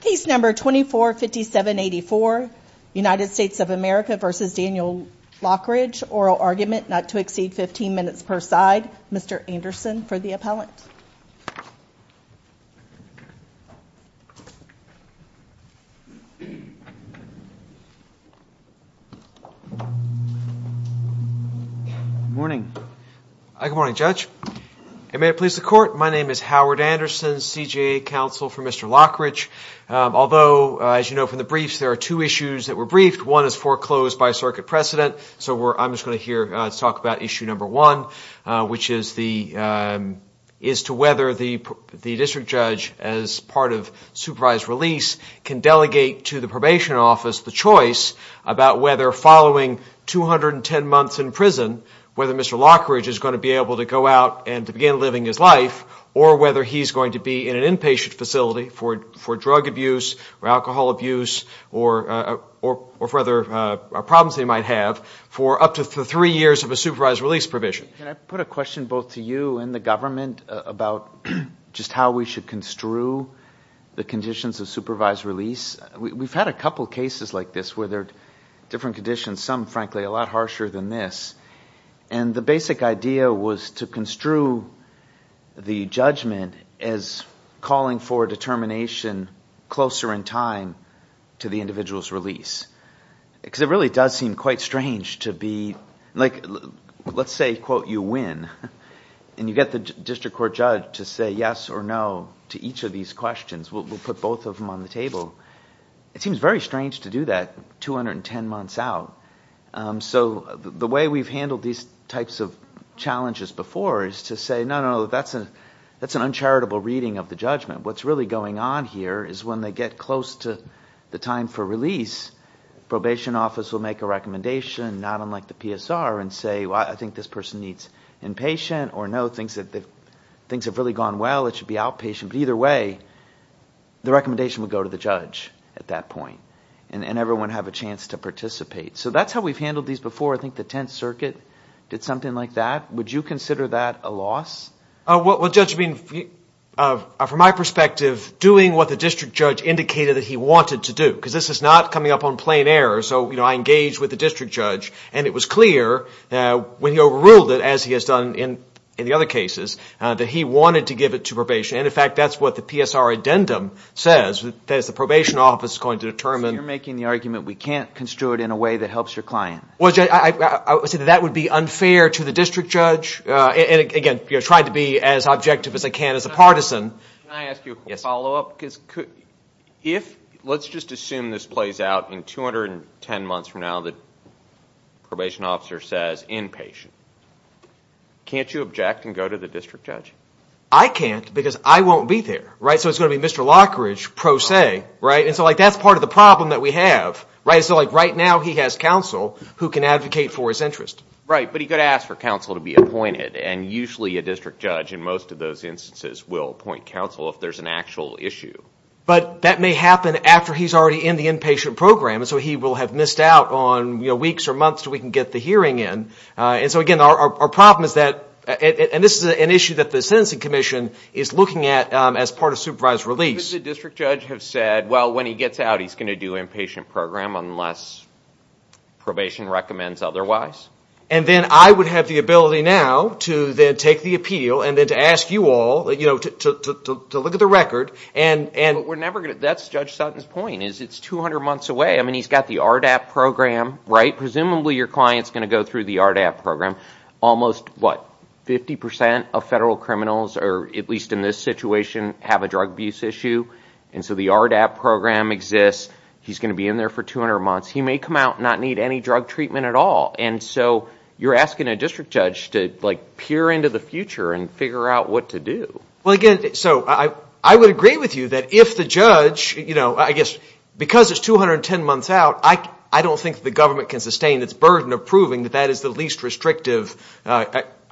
Case number 245784, United States of America v. Daniel Lockridge. Oral argument not to exceed 15 minutes per side. Mr. Anderson for the appellant. Good morning. Good morning, Judge. May it please the court, my name is Howard Anderson. I'm here on behalf of the Supreme Court Counsel for Mr. Lockridge. Although, as you know from the briefs, there are two issues that were briefed. One is foreclosed by circuit precedent. So I'm just going to talk about issue number one, which is to whether the district judge, as part of supervised release, can delegate to the probation office the choice about whether following 210 months in prison, whether Mr. Lockridge is going to be able to begin living his life, or whether he's going to be in an inpatient facility for drug abuse, or alcohol abuse, or for other problems he might have, for up to three years of a supervised release provision. Can I put a question both to you and the government about just how we should construe the conditions of supervised release? We've had a couple cases like this where there are different conditions, some, frankly, a lot harsher than this. And the basic idea was to construe the judgment as calling for a determination closer in time to the individual's release. Because it really does seem quite strange to be, like, let's say, quote, you win. And you get the district court judge to say yes or no to each of these questions. We'll put both of them on the table. It seems very strange to do that 210 months out. So the way we've handled these types of challenges before is to say, no, no, that's an uncharitable reading of the judgment. What's really going on here is when they get close to the time for release, probation office will make a recommendation, not unlike the PSR, and say, well, I think this person needs inpatient, or no, things have really gone well, it should be outpatient. But either way, the recommendation will go to the judge at that point. And everyone will have a chance to participate. So that's how we've handled these before. I think the Tenth Circuit did something like that. Would you consider that a loss? Well, Judge, I mean, from my perspective, doing what the district judge indicated that he wanted to do. Because this is not coming up on plain error. So, you know, I engaged with the district judge, and it was clear when he overruled it, as he has done in the other cases, that he wanted to give it to probation. And, in fact, that's what the PSR addendum says. That is, the probation office is going to determine. You're making the argument we can't construe it in a way that helps your client. Well, Judge, I would say that would be unfair to the district judge. And, again, trying to be as objective as I can as a partisan. Can I ask you a follow-up? Because if, let's just assume this plays out in 210 months from now, the probation officer says, inpatient. Can't you object and go to the district judge? I can't, because I won't be there. Right? So it's going to be Mr. Lockridge, pro se. Right? And so, like, that's part of the problem that we have. Right? So, like, right now he has counsel who can advocate for his interest. Right. But he could ask for counsel to be appointed. And usually a district judge, in most of those instances, will appoint counsel if there's an actual issue. But that may happen after he's already in the inpatient program. And so he will have missed out on weeks or months until we can get the hearing in. And so, again, our problem is that, and this is an issue that the Sentencing Commission is looking at as part of supervised release. But wouldn't the district judge have said, well, when he gets out, he's going to do inpatient program unless probation recommends otherwise? And then I would have the ability now to then take the appeal and then to ask you all, you know, to look at the record. But we're never going to. That's Judge Sutton's point, is it's 200 months away. I mean, he's got the RDAP program. Right? Presumably your client's going to go through the RDAP program. Almost, what, 50 percent of federal And so the RDAP program exists. He's going to be in there for 200 months. He may come out and not need any drug treatment at all. And so you're asking a district judge to, like, peer into the future and figure out what to do. Well, again, so I would agree with you that if the judge, you know, I guess because it's 210 months out, I don't think the government can sustain its burden of proving that that is the least restrictive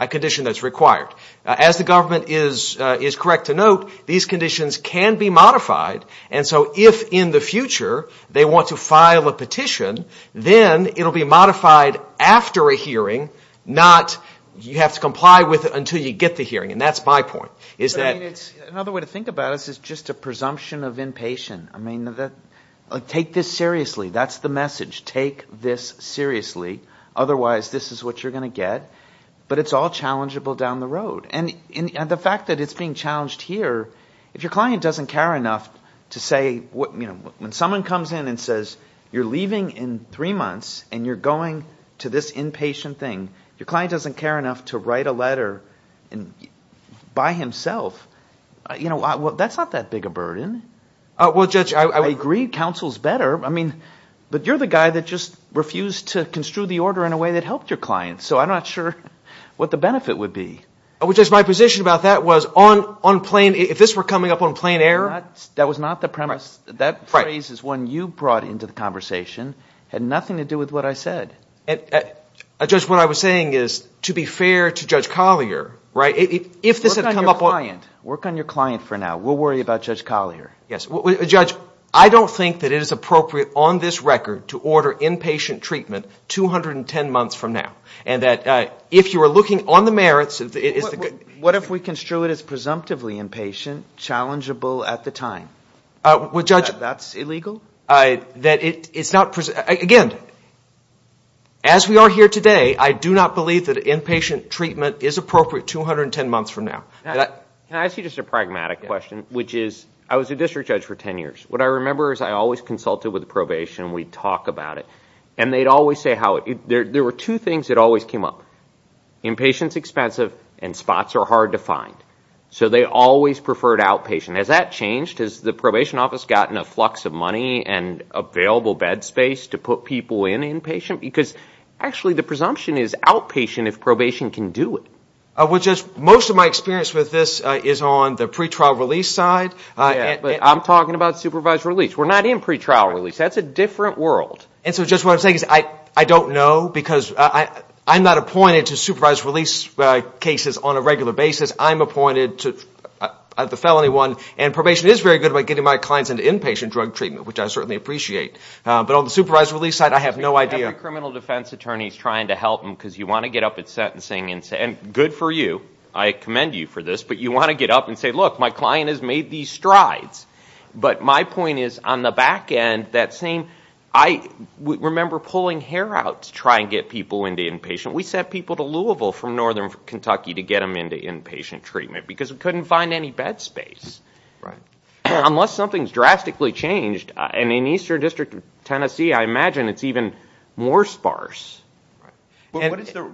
condition that's required. As the government is correct to note, these conditions can be modified. And so if in the future they want to file a petition, then it will be modified after a hearing, not you have to comply with it until you get the hearing. And that's my point. Another way to think about it is just a presumption of inpatient. I mean, take this seriously. That's the message. Take this seriously. Otherwise this is what you're going to get. But it's all challengeable down the road. And the fact that it's being challenged here, if your client doesn't care enough to say, you know, when someone comes in and says, you're leaving in three months and you're going to this inpatient thing, your client doesn't care enough to write a letter by himself, you know, that's not that big a Well, Judge, I agree counsel's better. I mean, but you're the guy that just refused to construe the order in a way that helped your client. So I'm not sure what the benefit would be. Which is my position about that was on plain, if this were coming up on plain error. That was not the premise. That phrase is one you brought into the conversation, had nothing to do with what I said. And, Judge, what I was saying is, to be fair to Judge Collier, right, if this had come up on Work on your client. Work on your client for now. We'll worry about Judge Collier. Yes. Judge, I don't think that it is appropriate on this record to order inpatient treatment 210 months from now. And that if you are looking on the merits, it is What if we construe it as presumptively inpatient, challengeable at the time? Well, Judge That's illegal? That it's not, again, as we are here today, I do not believe that inpatient treatment is appropriate 210 months from now. Can I ask you just a pragmatic question, which is, I was a district judge for ten years. What I remember is I always consulted with probation. We'd talk about it. And they'd always say how There were two things that always came up. Inpatient is expensive and spots are hard to find. So they always preferred outpatient. Has that changed? Has the probation office gotten a flux of money and available bed space to put people in inpatient? Because, actually, the presumption is outpatient if probation can do it. Well, Judge, most of my experience with this is on the pretrial release side. I'm talking about supervised release. We're not in pretrial release. That's a different world. And so, Judge, what I'm saying is I don't know because I'm not appointed to supervised release cases on a regular basis. I'm appointed to the felony one. And probation is very good about getting my clients into inpatient drug treatment, which I certainly appreciate. But on the supervised release side, I have no idea. Every criminal defense attorney is trying to help them because you want to get up at sentencing and say, good for you, I commend you for this, but you want to get up and say, look, my client has made these strides. But my point is on the back end, that same – I remember pulling hair out to try and get people into inpatient. We sent people to Louisville from northern Kentucky to get them into inpatient treatment because we couldn't find any bed space. Unless something's drastically changed, and in Eastern District of Tennessee, I imagine it's even more sparse. Answer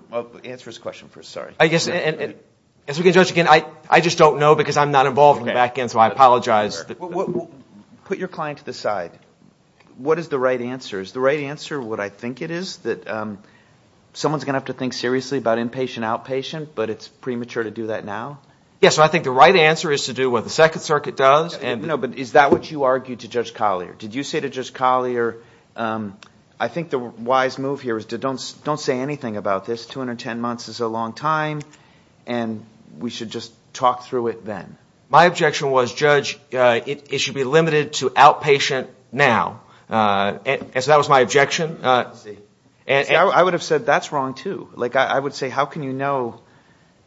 his question first, sorry. As we can judge again, I just don't know because I'm not involved in the back end, so I apologize. Put your client to the side. What is the right answer? Is the right answer what I think it is, that someone's going to have to think seriously about inpatient, outpatient, but it's premature to do that now? Yes, so I think the right answer is to do what the Second Circuit does. No, but is that what you argued to Judge Collier? Did you say to Judge Collier, I think the wise move here is don't say anything about this. 210 months is a long time, and we should just talk through it then. My objection was, Judge, it should be limited to outpatient now. So that was my objection. I would have said that's wrong, too. I would say how can you know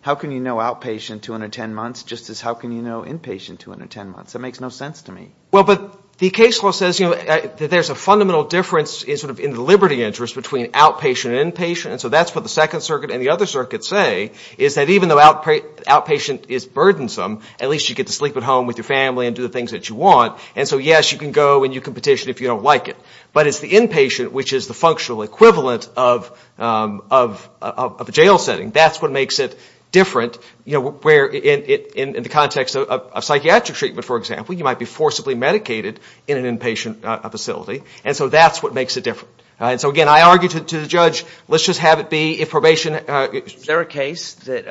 outpatient 210 months just as how can you know inpatient 210 months? That makes no sense to me. Well, but the case law says that there's a fundamental difference in the liberty interest between outpatient and inpatient. And so that's what the Second Circuit and the other circuits say, is that even though outpatient is burdensome, at least you get to sleep at home with your family and do the things that you want. And so, yes, you can go and you can petition if you don't like it. But it's the inpatient, which is the functional equivalent of a jail setting. That's what makes it different. You know, where in the context of psychiatric treatment, for example, you might be forcibly medicated in an inpatient facility. And so that's what makes it different. And so, again, I argue to the judge, let's just have it be if probation Is there a case that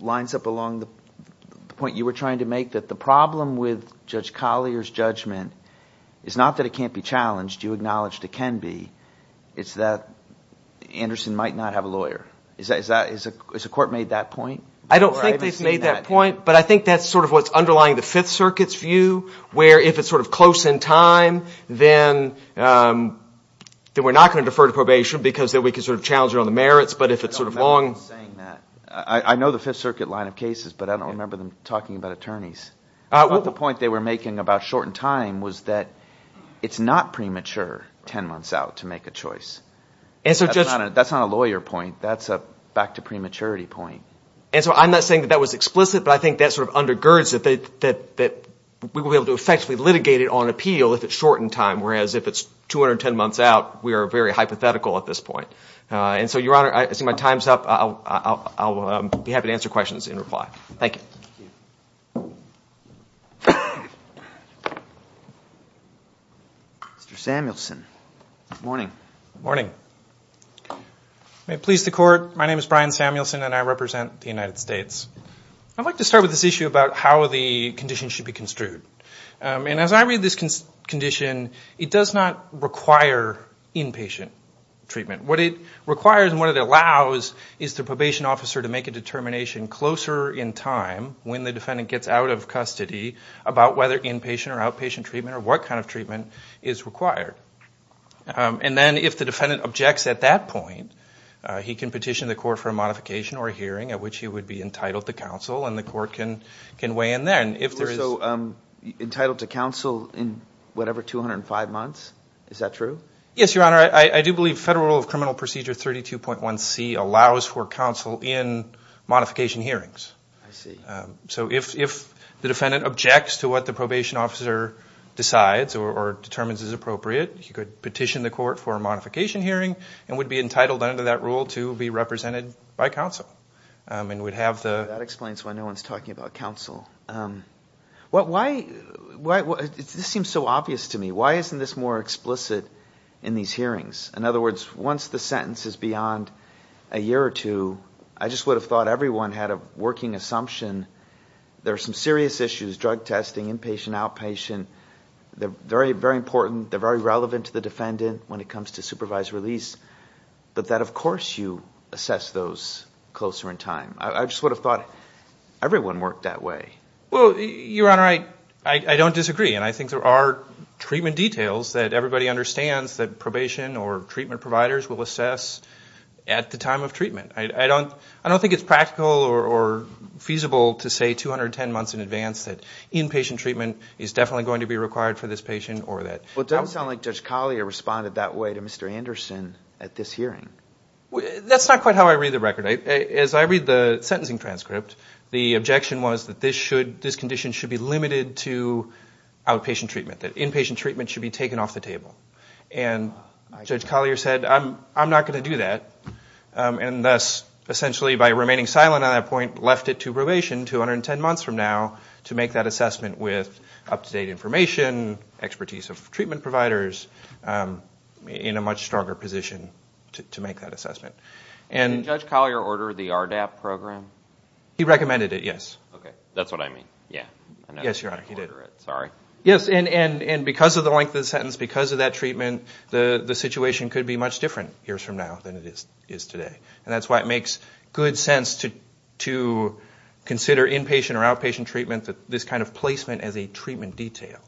lines up along the point you were trying to make that the problem with Judge Collier's judgment is not that it can't be challenged. You acknowledged it can be. It's that Anderson might not have a lawyer. Has the court made that point? I don't think they've made that point, but I think that's sort of what's underlying the Fifth Circuit's view, where if it's sort of close in time, then we're not going to defer to probation because we can sort of challenge it on the merits. But if it's sort of long. I know the Fifth Circuit line of cases, but I don't remember them talking about attorneys. But the point they were making about shortened time was that it's not premature ten months out to make a choice. That's not a lawyer point. That's a back to prematurity point. And so I'm not saying that that was explicit, but I think that sort of undergirds that we will be able to effectively litigate it on appeal if it's short in time, whereas if it's 210 months out, we are very hypothetical at this point. And so, Your Honor, I see my time's up. I'll be happy to answer questions in reply. Thank you. Mr. Samuelson. May it please the Court. My name is Brian Samuelson, and I represent the United States. I'd like to start with this issue about how the condition should be construed. And as I read this condition, it does not require inpatient treatment. What it requires and what it allows is the probation officer to make a determination closer in time when the defendant gets out of custody about whether inpatient or outpatient treatment or what kind of treatment is required. And then if the defendant objects at that point, he can petition the Court for a modification or a hearing at which he would be entitled to counsel, and the Court can weigh in there. You're also entitled to counsel in whatever, 205 months? Is that true? Yes, Your Honor. I do believe Federal Rule of Criminal Procedure 32.1C allows for counsel in modification hearings. I see. So if the defendant objects to what the probation officer decides or determines is appropriate, he could petition the Court for a modification hearing and would be entitled under that rule to be represented by counsel. That explains why no one is talking about counsel. This seems so obvious to me. Why isn't this more explicit in these hearings? In other words, once the sentence is beyond a year or two, I just would have thought everyone had a working assumption. There are some serious issues, drug testing, inpatient, outpatient. They're very important. They're very relevant to the defendant when it comes to supervised release. But that, of course, you assess those closer in time. I just would have thought everyone worked that way. Well, Your Honor, I don't disagree, and I think there are treatment details that everybody understands that probation or treatment providers will assess at the time of treatment. I don't think it's practical or feasible to say 210 months in advance that inpatient treatment is definitely going to be required for this patient or that. Well, it doesn't sound like Judge Collier responded that way to Mr. Anderson at this hearing. That's not quite how I read the record. As I read the sentencing transcript, the objection was that this condition should be limited to outpatient treatment, that inpatient treatment should be taken off the table. And Judge Collier said, I'm not going to do that, and thus, essentially, by remaining silent on that point, left it to probation 210 months from now to make that assessment with up-to-date information, expertise of treatment providers in a much stronger position to make that assessment. Did Judge Collier order the RDAP program? He recommended it, yes. Okay, that's what I mean. Yes, Your Honor, he did. Sorry. Yes, and because of the length of the sentence, because of that treatment, the situation could be much different years from now than it is today. And that's why it makes good sense to consider inpatient or outpatient treatment, this kind of placement as a treatment detail.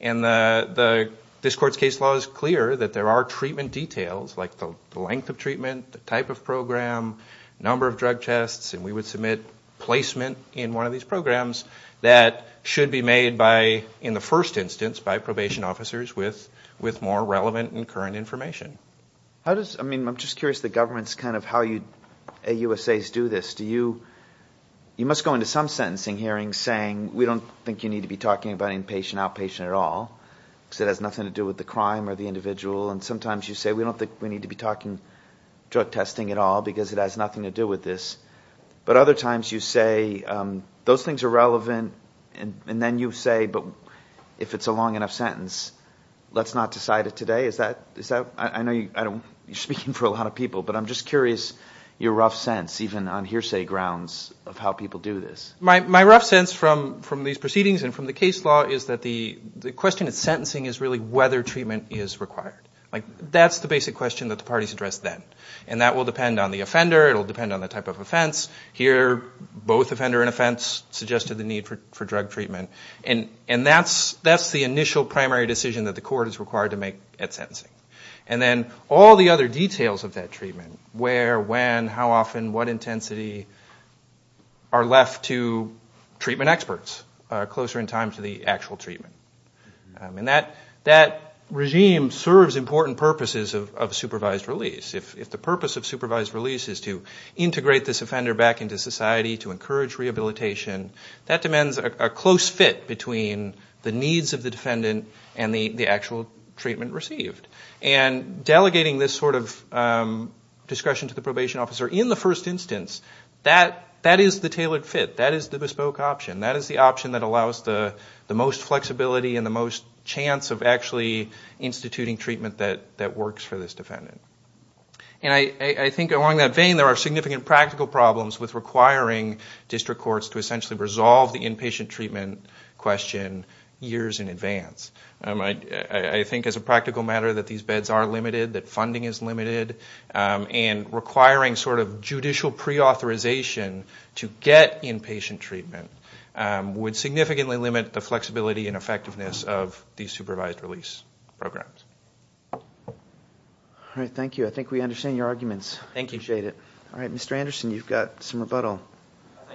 And this Court's case law is clear that there are treatment details, like the length of treatment, the type of program, number of drug tests, and we would submit placement in one of these programs that should be made by, in the first instance, by probation officers with more relevant and current information. I'm just curious the government's kind of how you AUSAs do this. You must go into some sentencing hearings saying, we don't think you need to be talking about inpatient, outpatient at all, because it has nothing to do with the crime or the individual. And sometimes you say, we don't think we need to be talking drug testing at all, because it has nothing to do with this. But other times you say, those things are relevant, and then you say, but if it's a long enough sentence, let's not decide it today. I know you're speaking for a lot of people, but I'm just curious your rough sense, even on hearsay grounds, of how people do this. My rough sense from these proceedings and from the case law is that the question of sentencing is really whether treatment is required. That's the basic question that the parties address then. And that will depend on the offender. It will depend on the type of offense. Here, both offender and offense suggested the need for drug treatment. And that's the initial primary decision that the court is required to make at sentencing. And then all the other details of that treatment, where, when, how often, what intensity, are left to treatment experts closer in time to the actual treatment. And that regime serves important purposes of supervised release. If the purpose of supervised release is to integrate this offender back into society, to encourage rehabilitation, that demands a close fit between the needs of the defendant and the actual treatment received. And delegating this sort of discretion to the probation officer in the first instance, that is the tailored fit. That is the bespoke option. That is the option that allows the most flexibility and the most chance of actually instituting treatment that works for this defendant. And I think along that vein, there are significant practical problems with requiring district courts to essentially resolve the inpatient treatment question years in advance. I think as a practical matter that these beds are limited, that funding is limited, and requiring sort of judicial preauthorization to get inpatient treatment would significantly limit the flexibility and effectiveness of these supervised release programs. All right, thank you. I think we understand your arguments. Thank you. I appreciate it. All right, Mr. Anderson, you've got some rebuttal. Thank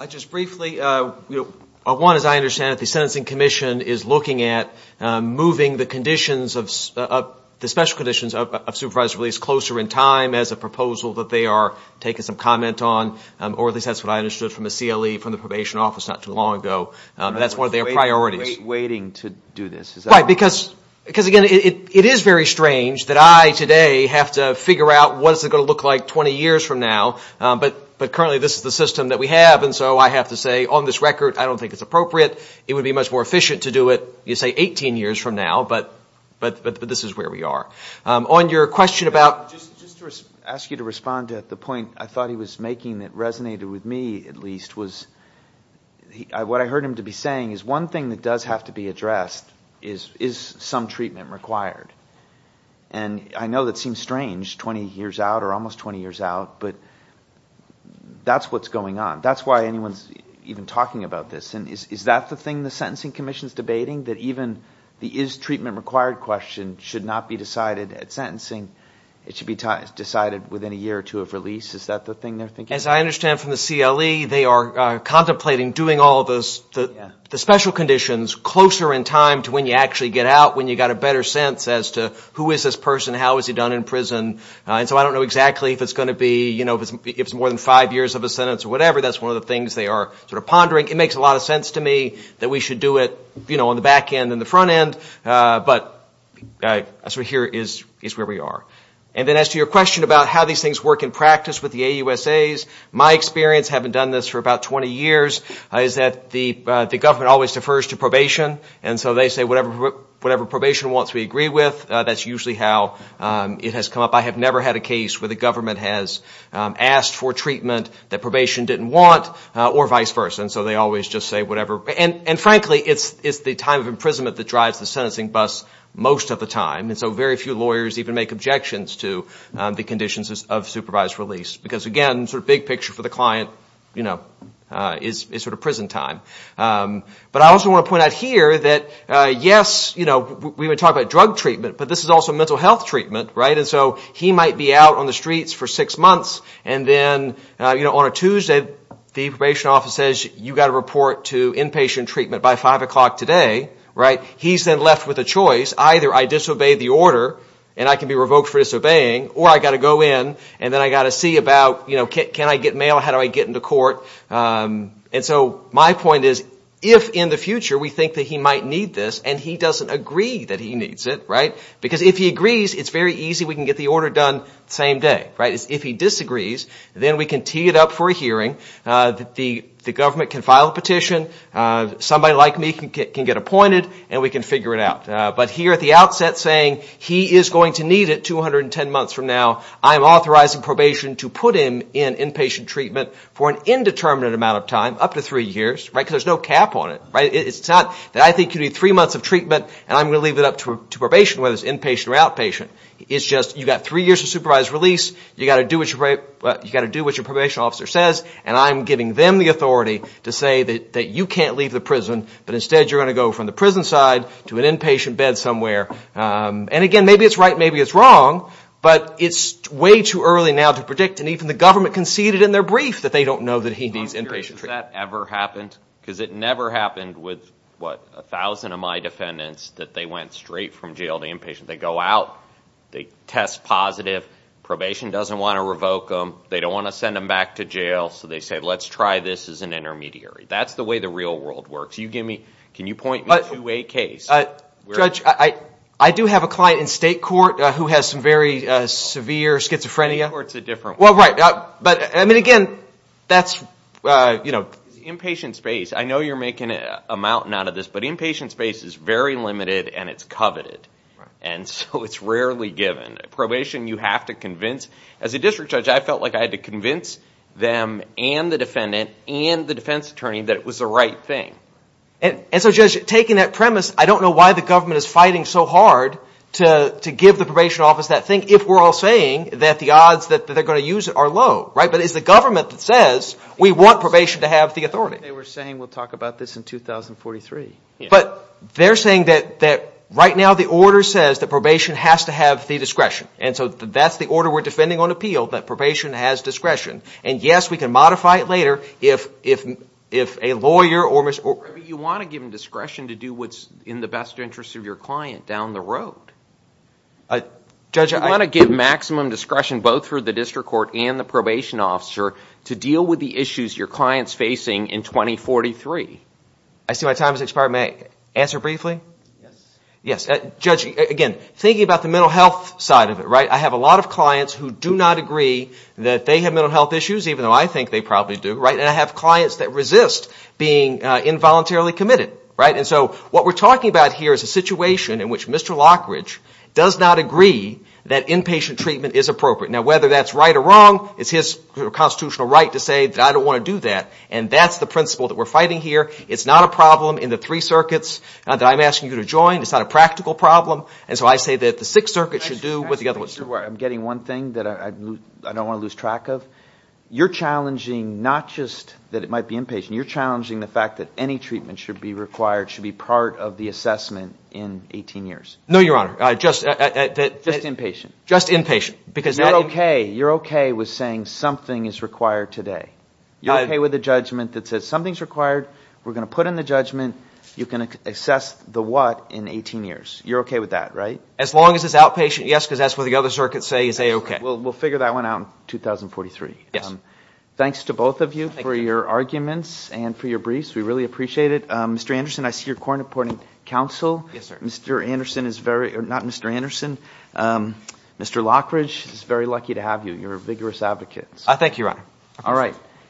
you. Just briefly, one, as I understand it, the Sentencing Commission is looking at moving the special conditions of supervised release closer in time as a proposal that they are taking some comment on, or at least that's what I understood from the CLE, from the probation office, not too long ago. That's one of their priorities. I'm not waiting to do this. Right, because, again, it is very strange that I today have to figure out what is it going to look like 20 years from now, but currently this is the system that we have, and so I have to say on this record, I don't think it's appropriate. It would be much more efficient to do it, you say, 18 years from now, but this is where we are. On your question about Just to ask you to respond to the point I thought he was making that resonated with me, at least, which was what I heard him to be saying is one thing that does have to be addressed is is some treatment required? And I know that seems strange, 20 years out or almost 20 years out, but that's what's going on. That's why anyone's even talking about this. And is that the thing the Sentencing Commission is debating, that even the is treatment required question should not be decided at sentencing? It should be decided within a year or two of release. Is that the thing they're thinking? As I understand from the CLE, they are contemplating doing all of those, the special conditions, closer in time to when you actually get out, when you've got a better sense as to who is this person, how is he done in prison, and so I don't know exactly if it's going to be, you know, if it's more than five years of a sentence or whatever. That's one of the things they are sort of pondering. It makes a lot of sense to me that we should do it, you know, on the back end and the front end, but sort of here is where we are. And then as to your question about how these things work in practice with the AUSAs, my experience having done this for about 20 years is that the government always defers to probation, and so they say whatever probation wants we agree with. That's usually how it has come up. I have never had a case where the government has asked for treatment that probation didn't want or vice versa, and so they always just say whatever. And frankly, it's the time of imprisonment that drives the sentencing bus most of the time, and so very few lawyers even make objections to the conditions of supervised release, because, again, sort of big picture for the client, you know, is sort of prison time. But I also want to point out here that, yes, you know, we've been talking about drug treatment, but this is also mental health treatment, right, and so he might be out on the streets for six months, and then, you know, on a Tuesday the probation office says you've got to report to inpatient treatment by 5 o'clock today. Right? He's then left with a choice. Either I disobey the order and I can be revoked for disobeying, or I've got to go in and then I've got to see about, you know, can I get mail, how do I get into court. And so my point is if in the future we think that he might need this and he doesn't agree that he needs it, right, because if he agrees it's very easy we can get the order done the same day, right, is if he disagrees then we can tee it up for a hearing, the government can file a petition, somebody like me can get appointed and we can figure it out. But here at the outset saying he is going to need it 210 months from now, I'm authorizing probation to put him in inpatient treatment for an indeterminate amount of time, up to three years, right, because there's no cap on it, right? It's not that I think you need three months of treatment and I'm going to leave it up to probation, whether it's inpatient or outpatient. It's just you've got three years of supervised release, you've got to do what your probation officer says, and I'm giving them the authority to say that you can't leave the prison, but instead you're going to go from the prison side to an inpatient bed somewhere. And again, maybe it's right, maybe it's wrong, but it's way too early now to predict, and even the government conceded in their brief that they don't know that he needs inpatient treatment. Has that ever happened? Because it never happened with, what, a thousand of my defendants that they went straight from jail to inpatient. They go out, they test positive, probation doesn't want to revoke them, they don't want to send them back to jail, so they say, let's try this as an intermediary. That's the way the real world works. Can you point me to a case? Judge, I do have a client in state court who has some very severe schizophrenia. State court's a different one. Well, right. But, I mean, again, that's, you know. Inpatient space. I know you're making a mountain out of this, but inpatient space is very limited and it's coveted, and so it's rarely given. Probation, you have to convince. As a district judge, I felt like I had to convince them and the defendant and the defense attorney that it was the right thing. And so, Judge, taking that premise, I don't know why the government is fighting so hard to give the probation office that thing, if we're all saying that the odds that they're going to use it are low, right? But it's the government that says we want probation to have the authority. They were saying we'll talk about this in 2043. But they're saying that right now the order says that probation has to have the discretion, and so that's the order we're defending on appeal, that probation has discretion. And, yes, we can modify it later if a lawyer or Mr. You want to give them discretion to do what's in the best interest of your client down the road. Judge, I You want to give maximum discretion both for the district court and the probation officer to deal with the issues your client's facing in 2043. I see my time has expired. May I answer briefly? Yes. Yes. Judge, again, thinking about the mental health side of it, right, I have a lot of clients who do not agree that they have mental health issues, even though I think they probably do, right? And I have clients that resist being involuntarily committed, right? And so what we're talking about here is a situation in which Mr. Lockridge does not agree that inpatient treatment is appropriate. Now, whether that's right or wrong, it's his constitutional right to say that I don't want to do that, and that's the principle that we're fighting here. It's not a problem in the three circuits that I'm asking you to join. It's not a practical problem. And so I say that the Sixth Circuit should do what the other ones do. I'm getting one thing that I don't want to lose track of. You're challenging not just that it might be inpatient. You're challenging the fact that any treatment should be required, should be part of the assessment in 18 years. No, Your Honor. Just inpatient. Just inpatient. Because you're okay. You're okay with saying something is required today. You're okay with a judgment that says something is required. We're going to put in the judgment. You can assess the what in 18 years. You're okay with that, right? As long as it's outpatient, yes, because that's what the other circuits say is a-okay. We'll figure that one out in 2043. Yes. Thanks to both of you for your arguments and for your briefs. We really appreciate it. Mr. Anderson, I see you're co-reporting counsel. Yes, sir. Mr. Anderson is very – not Mr. Anderson. Mr. Lockridge, it's very lucky to have you. You're a vigorous advocate. Thank you, Your Honor. All right.